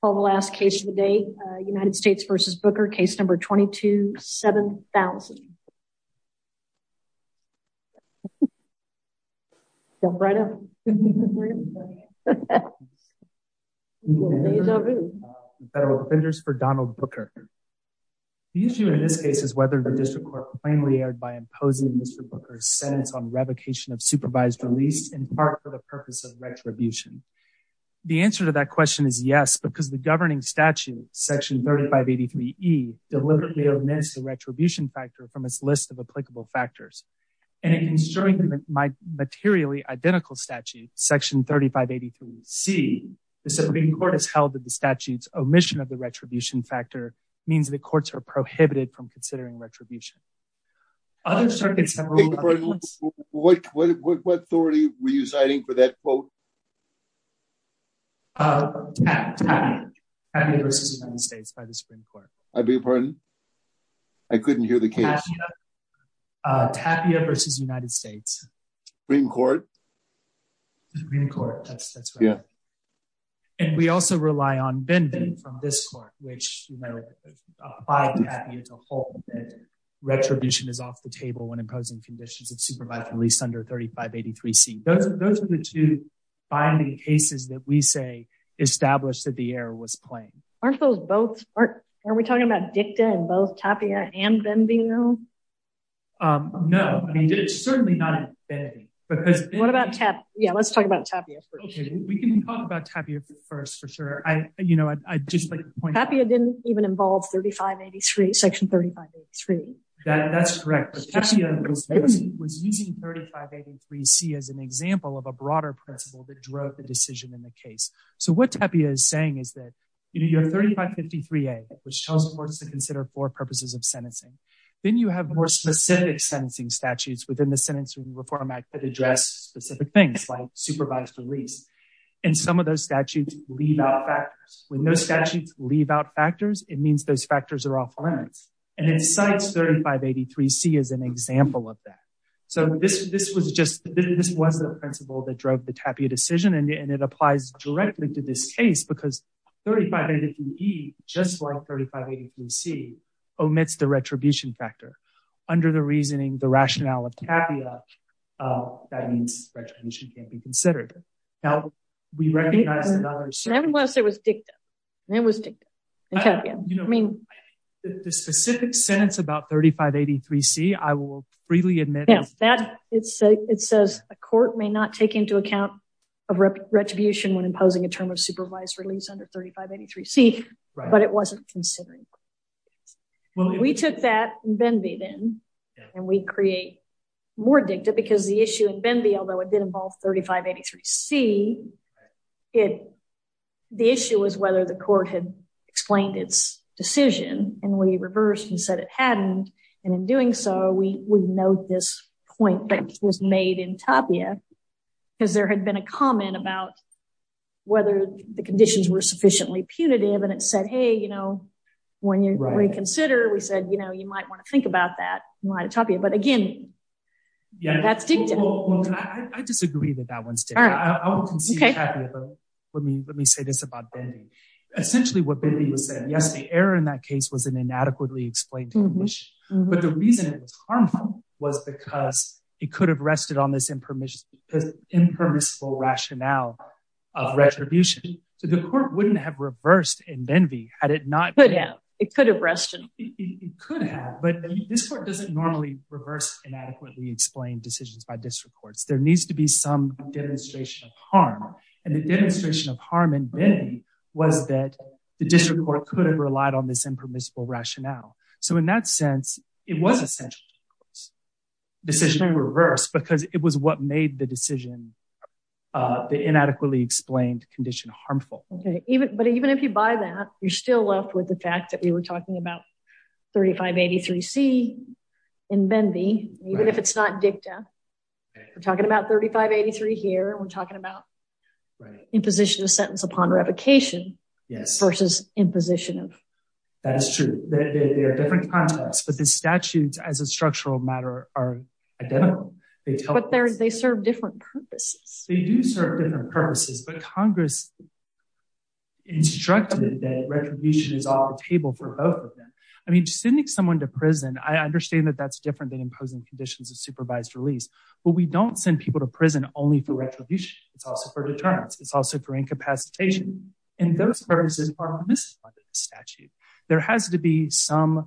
from the last case of the day, United States v. Booker, case number 22-7000. The issue in this case is whether the district court plainly erred by imposing Mr. Booker's sentence on revocation of supervised release in part for the purpose of retribution. The answer to that question is yes, because the governing statute, section 3583E, deliberately omits the retribution factor from its list of applicable factors. And in considering the materially identical statute, section 3583C, the Supreme Court has held that the statute's omission of the retribution factor means that courts are prohibited from considering retribution. What authority were you citing for that quote? Tapia v. United States by the Supreme Court. I beg your pardon? I couldn't hear the case. Tapia v. United States. Supreme Court? Supreme Court, that's right. Yeah. And we also rely on Bending from this court, which applied Tapia to hold that retribution is off the table when imposing conditions of supervised release under 3583C. Those are the two binding cases that we say established that the error was plain. Aren't those both? Are we talking about DICTA in both Tapia and Bending though? No, I mean, certainly not in Bending. What about Tapia? Yeah, let's talk about Tapia first. Tapia didn't even involve 3583, section 3583. That's correct. Tapia was using 3583C as an example of a broader principle that drove the decision in the case. So what Tapia is saying is that you have 3553A, which tells courts to consider four purposes of sentencing. Then you have more specific sentencing statutes within the Sentencing Reform Act that address specific things like supervised release. And some of those statutes leave out factors. When those statutes leave out factors, it means those factors are off limits. And it cites 3583C as an example of that. So this was the principle that drove the Tapia decision, and it applies directly to this case because 3583E, just like 3583C, omits the retribution factor. Under the reasoning, the rationale of Tapia, that means retribution can't be considered. Now, we recognize that others- I didn't want to say it was dicta. It was dicta in Tapia. I mean- The specific sentence about 3583C, I will freely admit- Yeah, it says a court may not take into account retribution when imposing a term of supervised release under 3583C, but it wasn't considered. We took that in Benby then, and we create more dicta because the issue in Benby, although it did involve 3583C, the issue was whether the court had explained its decision. And we reversed and said it hadn't. And in doing so, we note this point that was made in Tapia because there had been a comment about whether the conditions were sufficiently punitive. And it said, hey, you know, when you reconsider, we said, you know, you might want to think about that in light of Tapia. But again, that's dicta. I disagree that that one's dicta. I will concede Tapia, but let me say this about Benby. Essentially, what Benby was saying, yes, the error in that case was an inadequately explained condition, but the reason it was harmful was because it could have rested on this impermissible rationale of retribution. So the court wouldn't have reversed in Benby had it not been. It could have. It could have rested. It could have, but this court doesn't normally reverse inadequately explained decisions by district courts. There needs to be some demonstration of harm. And the demonstration of harm in Benby was that the district court could have relied on this impermissible rationale. So in that sense, it was essential to reverse because it was what made the decision, the But even if you buy that, you're still left with the fact that we were talking about 3583C in Benby, even if it's not dicta. We're talking about 3583 here and we're talking about imposition of sentence upon revocation versus imposition of. That's true. There are different contexts, but the statutes as a structural matter are identical. But they serve different purposes. They do serve different purposes, but Congress instructed that retribution is off the table for both of them. I mean, sending someone to prison, I understand that that's different than imposing conditions of supervised release, but we don't send people to prison only for retribution. It's also for deterrence. It's also for incapacitation. And those purposes are misplaced in the statute. There has to be some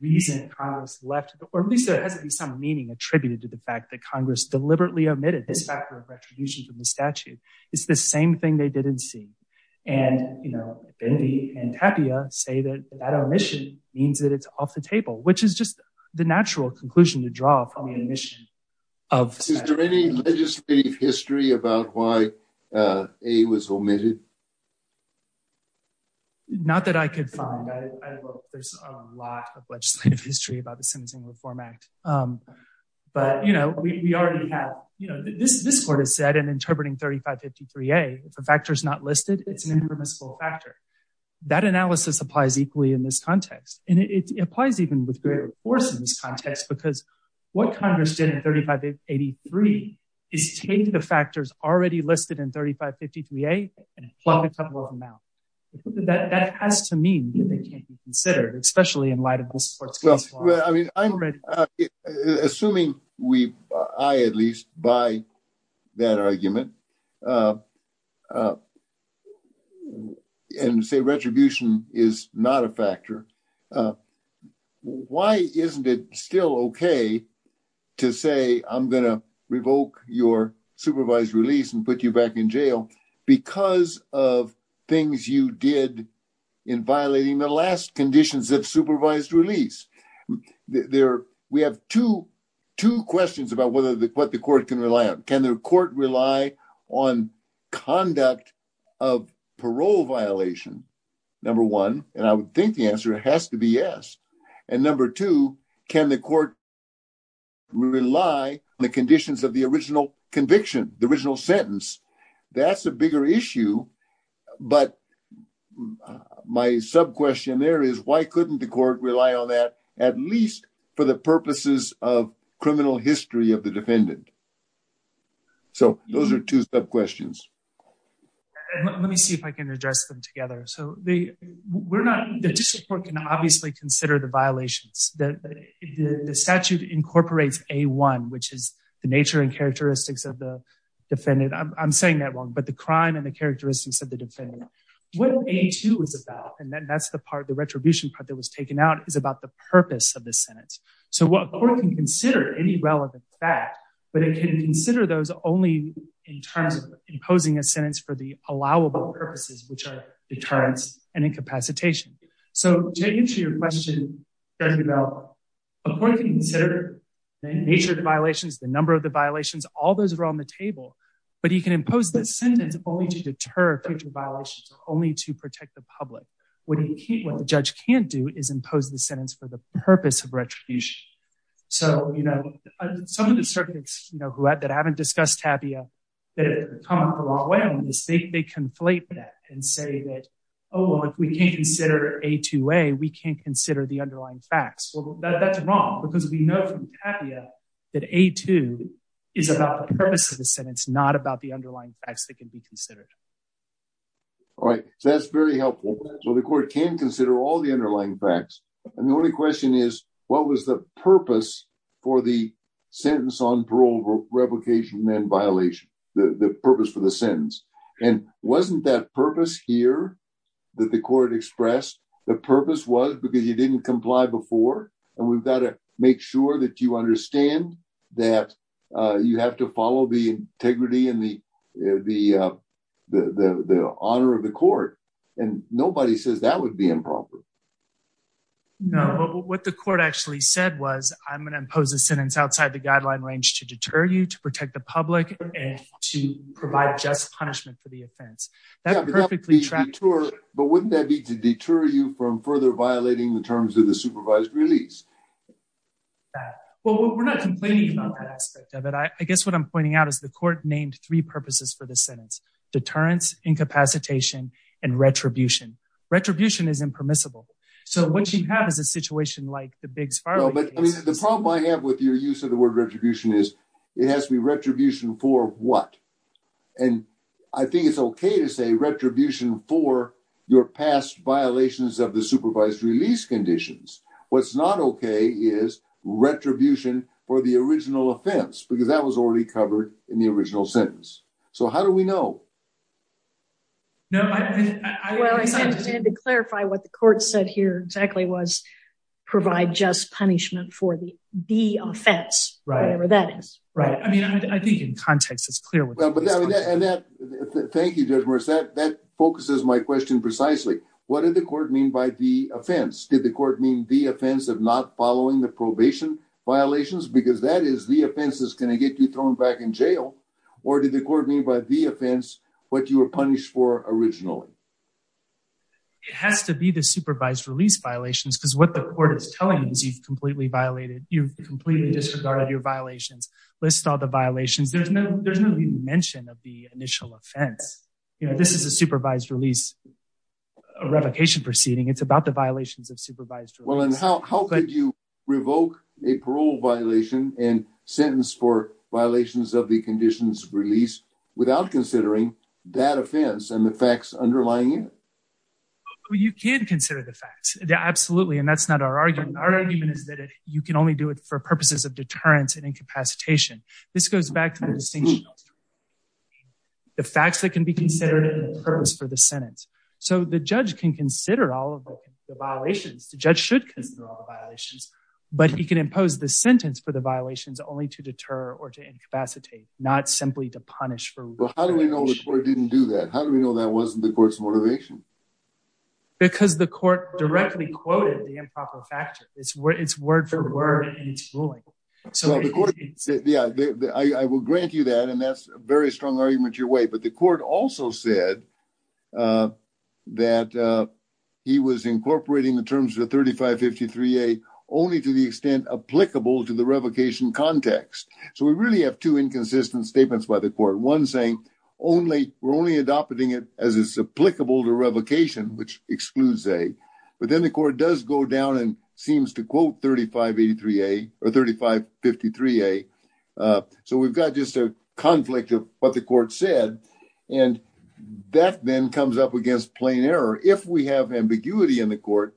reason Congress left, or at least there has to be some meaning attributed to the fact that Congress deliberately omitted this factor of retribution from the statute. It's the same thing they didn't see. And, you know, Benby and Tapia say that that omission means that it's off the table, which is just the natural conclusion to draw from the omission of the statute. Is there any legislative history about why A was omitted? Not that I could find. There's a lot of legislative history about the Sentencing Reform Act. But, you know, we already have, you know, this court has said in interpreting 3553A, if a factor is not listed, it's an impermissible factor. That analysis applies equally in this context. And it applies even with greater force in this context, because what Congress did in 3583 is take the factors already listed in 3553A and plug a couple of them out. That has to mean that they can't be considered, especially in light of this court's case law. Well, I mean, assuming we, I at least, buy that argument and say retribution is not a factor, why isn't it still okay to say I'm going to revoke your supervised release and put you back in jail because of things you did in violating the last conditions of supervised release? We have two questions about what the court can rely on. Can the court rely on conduct of parole violation, number one? And I would think the answer has to be yes. And number two, can the court rely on the conditions of the original conviction, the original sentence? That's a bigger issue. But my sub-question there is why couldn't the court rely on that, at least for the purposes of criminal history of the defendant? So those are two sub-questions. Let me see if I can address them together. So we're not, the district court can obviously consider the violations. The statute incorporates A1, which is the nature and characteristics of the defendant. I'm saying that wrong, but the crime and the characteristics of the defendant. What A2 is about, and that's the part, the retribution part that was taken out, is about the purpose of the sentence. So the court can consider any relevant fact, but it can consider those only in terms of imposing a sentence for the allowable purposes, which are deterrence and incapacitation. So to answer your question, Dr. Bell, but he can impose the sentence only to deter future violations or only to protect the public. What the judge can't do is impose the sentence for the purpose of retribution. So, you know, some of the circuits, you know, that haven't discussed TAPIA that have come a long way on this, they conflate that and say that, oh, well, if we can't consider A2A, we can't consider the underlying facts. Well, that's wrong because we know from TAPIA that A2 is about the purpose of the sentence, not about the underlying facts that can be considered. All right. So that's very helpful. So the court can consider all the underlying facts. And the only question is, what was the purpose for the sentence on parole, replication and violation, the purpose for the sentence? And wasn't that purpose here that the court expressed? The purpose was because you didn't comply before, and we've got to make sure that you understand that you have to follow the integrity and the honor of the court. And nobody says that would be improper. No, but what the court actually said was, I'm going to impose a sentence outside the guideline range to deter you, to protect the public and to provide just punishment for the offense. But wouldn't that be to deter you from further violating the terms of the supervised release? Well, we're not complaining about that aspect of it. I guess what I'm pointing out is the court named three purposes for the sentence, deterrence, incapacitation, and retribution. Retribution is impermissible. So what you have is a situation like the Biggs-Farley case. The problem I have with your use of the word retribution is it has to be retribution for what? And I think it's okay to say retribution for your past violations of the supervised release conditions. What's not okay is retribution for the original offense, because that was already covered in the original sentence. So how do we know? Well, I understand to clarify what the court said here exactly was provide just punishment for the offense, whatever that is. Right. I mean, I think in context it's clear. Thank you, Judge Morris. That focuses my question precisely. What did the court mean by the offense? Did the court mean the offense of not following the probation violations? Because that is the offense that's going to get you thrown back in jail. Or did the court mean by the offense what you were punished for originally? It has to be the supervised release violations, because what the court is telling you is you've completely violated, you've completely disregarded your violations. List all the violations. There's no mention of the initial offense. This is a supervised release revocation proceeding. It's about the violations of supervised release. Well, and how could you revoke a parole violation and sentence for violations of the conditions of release without considering that offense and the facts underlying it? Well, you can consider the facts. Yeah, absolutely. And that's not our argument. Our argument is that you can only do it for purposes of deterrence and incapacitation. This goes back to the distinction of the facts that can be considered and the purpose for the sentence. So the judge can consider all of the violations. The judge should consider all the violations. But he can impose the sentence for the violations only to deter or to incapacitate, not simply to punish for revocation. Well, how do we know the court didn't do that? How do we know that wasn't the court's motivation? Because the court directly quoted the improper factor. It's word for word, and it's ruling. Yeah, I will grant you that, and that's a very strong argument your way. But the court also said that he was incorporating the terms of the 3553A only to the extent applicable to the revocation context. So we really have two inconsistent statements by the court. One saying only we're only adopting it as it's applicable to revocation, which excludes A. But then the court does go down and seems to quote 3583A or 3553A. So we've got just a conflict of what the court said, and that then comes up against plain error. If we have ambiguity in the court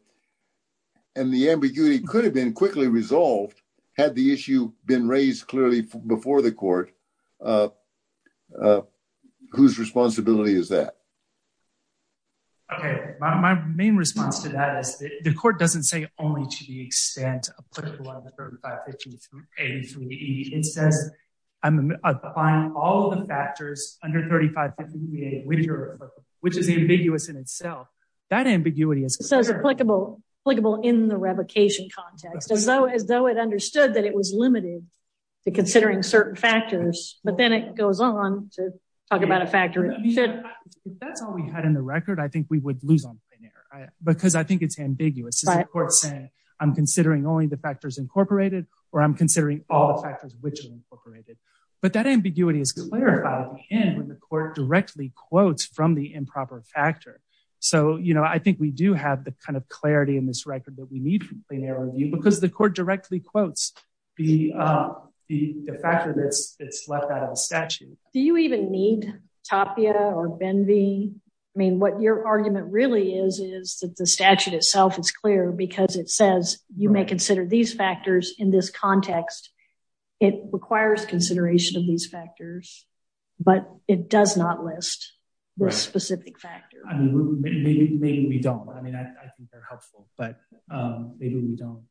and the ambiguity could have been quickly resolved had the issue been raised clearly before the court, whose responsibility is that? Okay, my main response to that is the court doesn't say only to the extent applicable under 3553A and 3583E. It says I'm applying all of the factors under 3553A, which is ambiguous in itself. That ambiguity is applicable in the revocation context, as though it understood that it was limited to considering certain factors. But then it goes on to talk about a factor. If that's all we had in the record, I think we would lose on plain error because I think it's ambiguous. I'm considering only the factors incorporated or I'm considering all the factors which are incorporated. But that ambiguity is clarified in when the court directly quotes from the improper factor. So, you know, I think we do have the kind of clarity in this record that we need from plain error review because the court directly quotes the factor that's left out of the statute. Do you even need Tapia or Benvey? I mean, what your argument really is, is that the statute itself is clear because it says you may consider these factors in this context. It requires consideration of these factors, but it does not list this specific factor. Maybe we don't. I mean, I think they're helpful, but maybe we don't.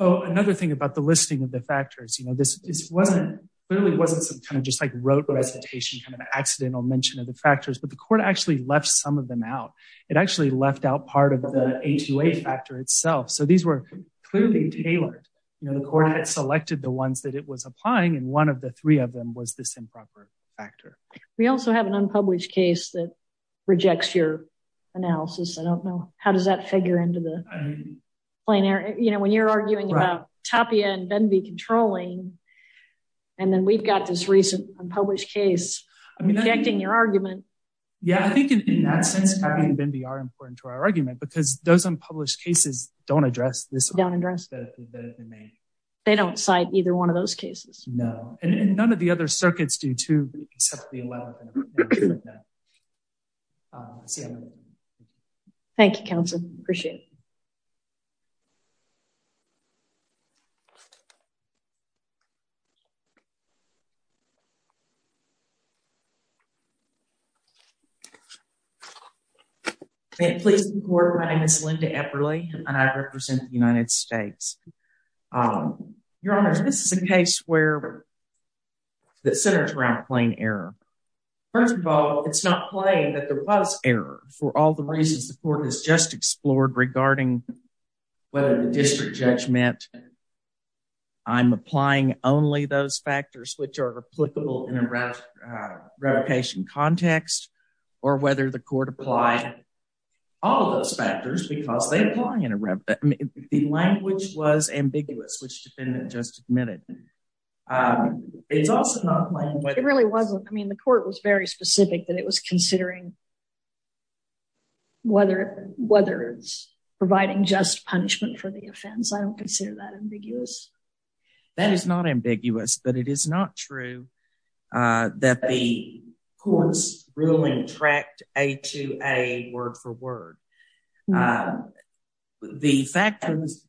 Oh, another thing about the listing of the factors, you know, this literally wasn't some kind of just like rote recitation, kind of an accidental mention of the factors, but the court actually left some of them out. It actually left out part of the A2A factor itself. So these were clearly tailored. You know, the court had selected the ones that it was applying, and one of the three of them was this improper factor. We also have an unpublished case that rejects your analysis. I don't know. How does that figure into the plain error? You know, when you're arguing about Tapia and Benvey controlling, and then we've got this recent unpublished case rejecting your argument. Yeah, I think in that sense, Tapia and Benvey are important to our argument because those unpublished cases don't address this. They don't cite either one of those cases. No, and none of the other circuits do too, except the 11th. Thank you, counsel. Appreciate it. My name is Linda Epperly, and I represent the United States. Your Honor, this is a case that centers around plain error. First of all, it's not plain that there was error for all the reasons the court has just explored regarding whether the district judgment, I'm applying only those factors which are applicable in a revocation context, or whether the court applied all of those factors because they apply in a revocation context. The language was ambiguous, which the defendant just admitted. It's also not plain whether- It really wasn't. I mean, the court was very specific that it was considering whether it's providing just punishment for the offense. I don't consider that ambiguous. That is not ambiguous, but it is not true that the court's ruling tracked A to A word for word. The factors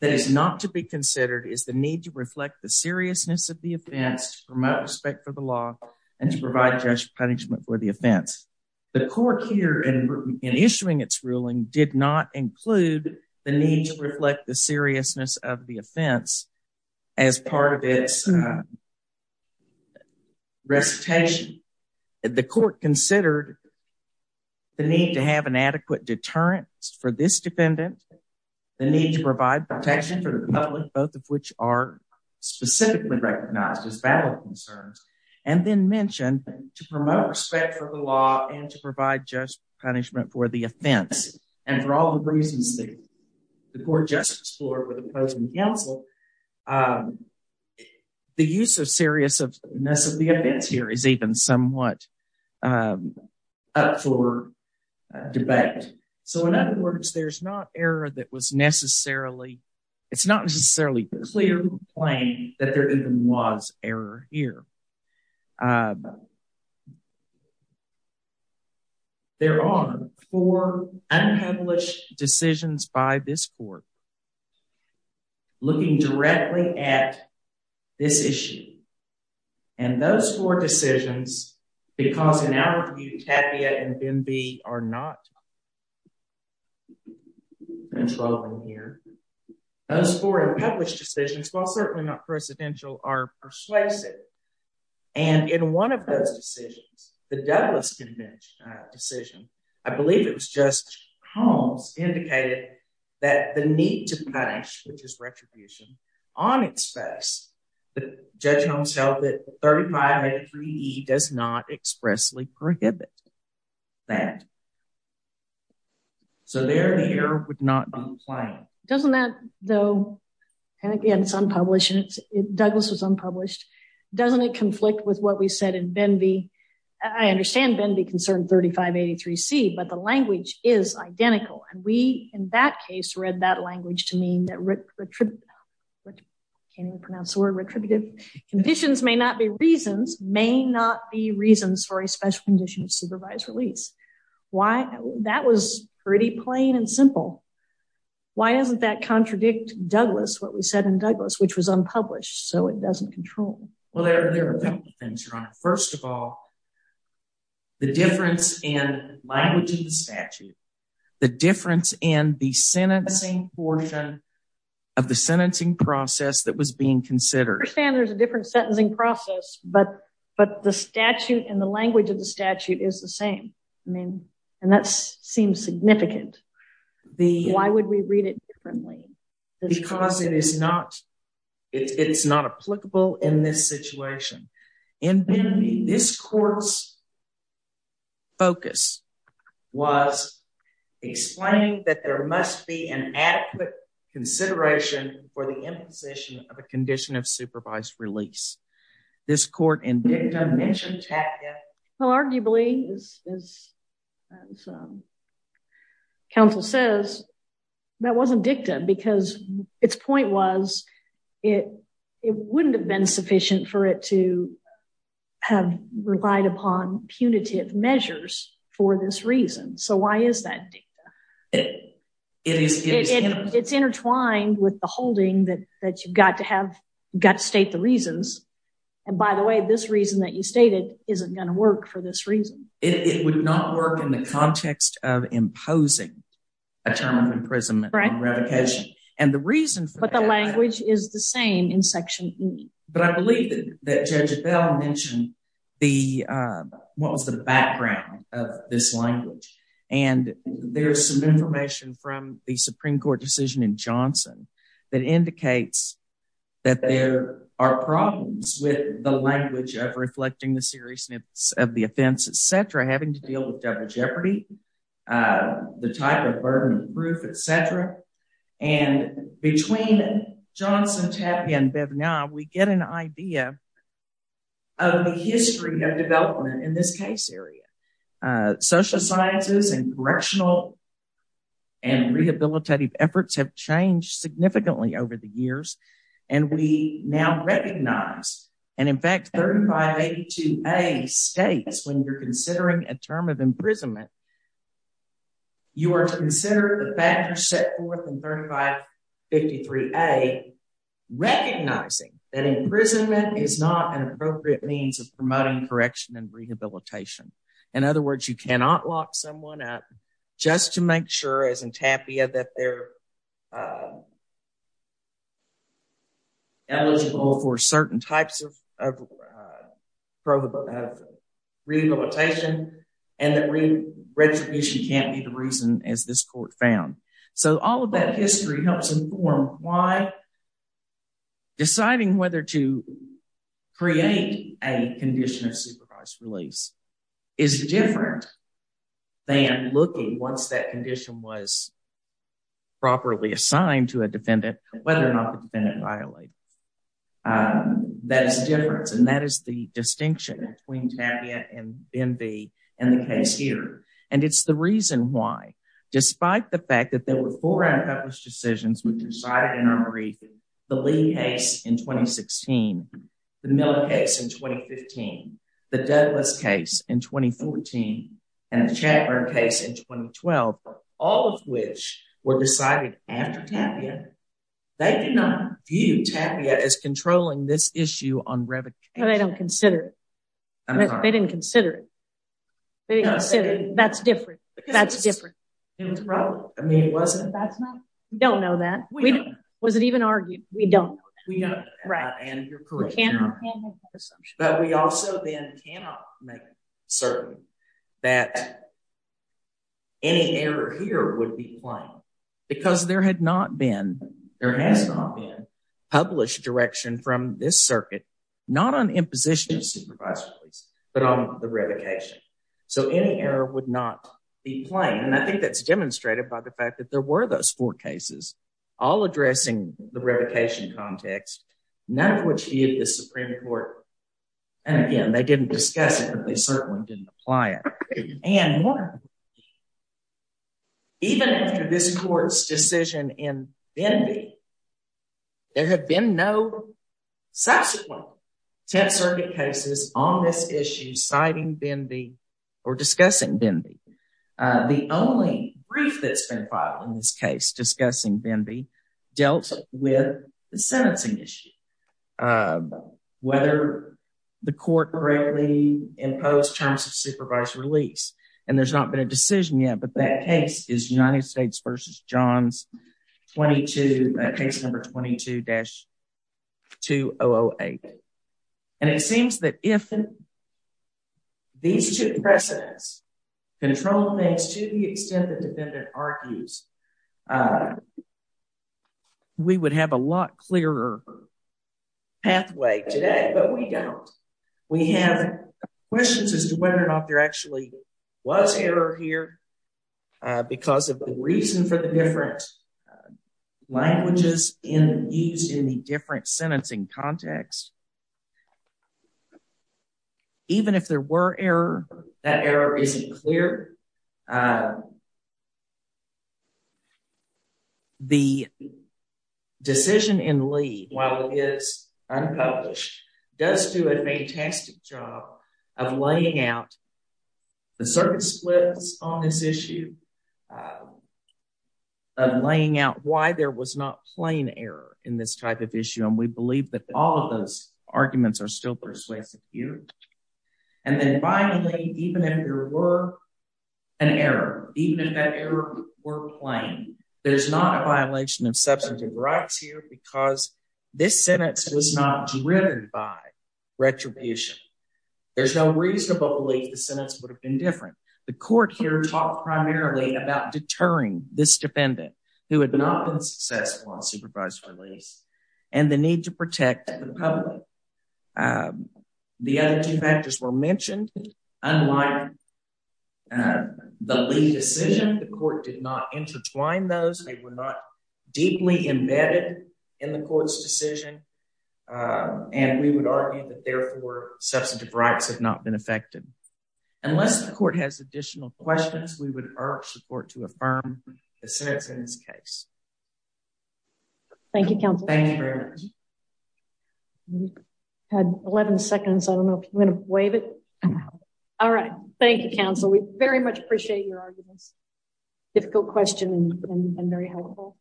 that is not to be considered is the need to reflect the seriousness of the offense, to promote respect for the law, and to provide just punishment for the offense. The court here, in issuing its ruling, did not include the need to reflect the seriousness of the offense as part of its recitation. The court considered the need to have an adequate deterrent for this defendant, the need to provide protection for the public, both of which are specifically recognized as valid concerns, and then mentioned to promote respect for the law and to provide just punishment for the offense. And for all the reasons that the court just explored with opposing counsel, the use of seriousness of the offense here is even somewhat up for debate. So, in other words, there's not error that was necessarily, it's not necessarily clear claim that there even was error here. There are four unpublished decisions by this court looking directly at this issue. And those four decisions, because in our view, Tapia and Benbee are not controlling here. Those four unpublished decisions, while certainly not precedential, are persuasive. And in one of those decisions, the Douglas Convention decision, I believe it was Judge Holmes, indicated that the need to punish, which is retribution, on express, Judge Holmes held that 3583E does not expressly prohibit that. So, there, the error would not be claimed. Doesn't that, though, and again, it's unpublished, and Douglas was unpublished, doesn't it conflict with what we said in Benbee? I understand Benbee concerned 3583C, but the language is identical. And we, in that case, read that language to mean that, can't even pronounce the word retributive. Conditions may not be reasons, may not be reasons for a special condition of supervised release. Why, that was pretty plain and simple. Why doesn't that contradict Douglas, what we said in Douglas, which was unpublished, so it doesn't control. Well, there are a couple of things, Your Honor. First of all, the difference in language in the statute, the difference in the sentencing portion of the sentencing process that was being considered. I understand there's a different sentencing process, but the statute and the language of the statute is the same. I mean, and that seems significant. Why would we read it differently? Because it is not, it's not applicable in this situation. In Benbee, this court's focus was explaining that there must be an adequate consideration for the imposition of a condition of supervised release. This court in DICTA mentioned that. Well, arguably, as counsel says, that wasn't DICTA because its point was, it wouldn't have been sufficient for it to have relied upon punitive measures for this reason. So why is that DICTA? It's intertwined with the holding that you've got to have, got to state the reasons. And by the way, this reason that you stated isn't going to work for this reason. It would not work in the context of imposing a term of imprisonment and revocation. But the language is the same in Section E. But I believe that Judge Bell mentioned the, what was the background of this language. And there's some information from the Supreme Court decision in Johnson that indicates that there are problems with the language of reflecting the seriousness of the offense, etc. Having to deal with double jeopardy, the type of burden of proof, etc. And between Johnson, Tapia, and Bivnow, we get an idea of the history of development in this case area. Social sciences and correctional and rehabilitative efforts have changed significantly over the years. And we now recognize, and in fact, 3582A states when you're considering a term of imprisonment, you are to consider the factors set forth in 3553A recognizing that imprisonment is not an appropriate means of promoting correction and rehabilitation. In other words, you cannot lock someone up just to make sure, as in Tapia, that they're eligible for certain types of rehabilitation and that retribution can't be the reason, as this court found. So all of that history helps inform why deciding whether to create a condition of supervised release is different than looking, once that condition was properly assigned to a defendant, whether or not the defendant violated. That is the difference, and that is the distinction between Tapia and Bivnow in the case here. And it's the reason why, despite the fact that there were four unpublished decisions which were cited in our brief, the Lee case in 2016, the Miller case in 2015, the Douglas case in 2014, and the Chatler case in 2012, all of which were decided after Tapia, they do not view Tapia as controlling this issue on revocation. They don't consider it. They didn't consider it. That's different. That's different. I mean, it wasn't. We don't know that. Was it even argued? We don't know that. But we also then cannot make certain that any error here would be plain. Because there has not been published direction from this circuit, not on imposition of supervised release, but on the revocation. So any error would not be plain. And I think that's demonstrated by the fact that there were those four cases, all addressing the revocation context, none of which viewed the Supreme Court. And again, they didn't discuss it, but they certainly didn't apply it. And more, even after this court's decision in Benby, there have been no subsequent Tenth Circuit cases on this issue citing Benby or discussing Benby. The only brief that's been filed in this case discussing Benby dealt with the sentencing issue, whether the court correctly imposed terms of supervised release. And there's not been a decision yet. But that case is United States v. Johns 22, case number 22-2008. And it seems that if these two precedents control things to the extent the defendant argues, we would have a lot clearer pathway today. But we don't. We have questions as to whether or not there actually was error here because of the reason for the different languages used in the different sentencing context. Even if there were error, that error isn't clear. The decision in Lee, while it is unpublished, does do a fantastic job of laying out the circuit splits on this issue, of laying out why there was not plain error in this type of issue. And we believe that all of those arguments are still persuasive here. And then finally, even if there were an error, even if that error were plain, there's not a violation of substantive rights here because this sentence was not driven by retribution. There's no reasonable belief the sentence would have been different. The court here talked primarily about deterring this defendant, who had not been successful on supervised release, and the need to protect the public. The other two factors were mentioned. Unlike the Lee decision, the court did not intertwine those. They were not deeply embedded in the court's decision. And we would argue that, therefore, substantive rights have not been affected. Unless the court has additional questions, we would urge the court to affirm the sentence in this case. Thank you, counsel. Thank you very much. We had 11 seconds. I don't know if you want to waive it. All right. Thank you, counsel. We very much appreciate your arguments. Difficult question and very helpful.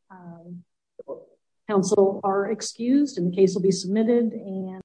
Counsel are excused and the case will be submitted.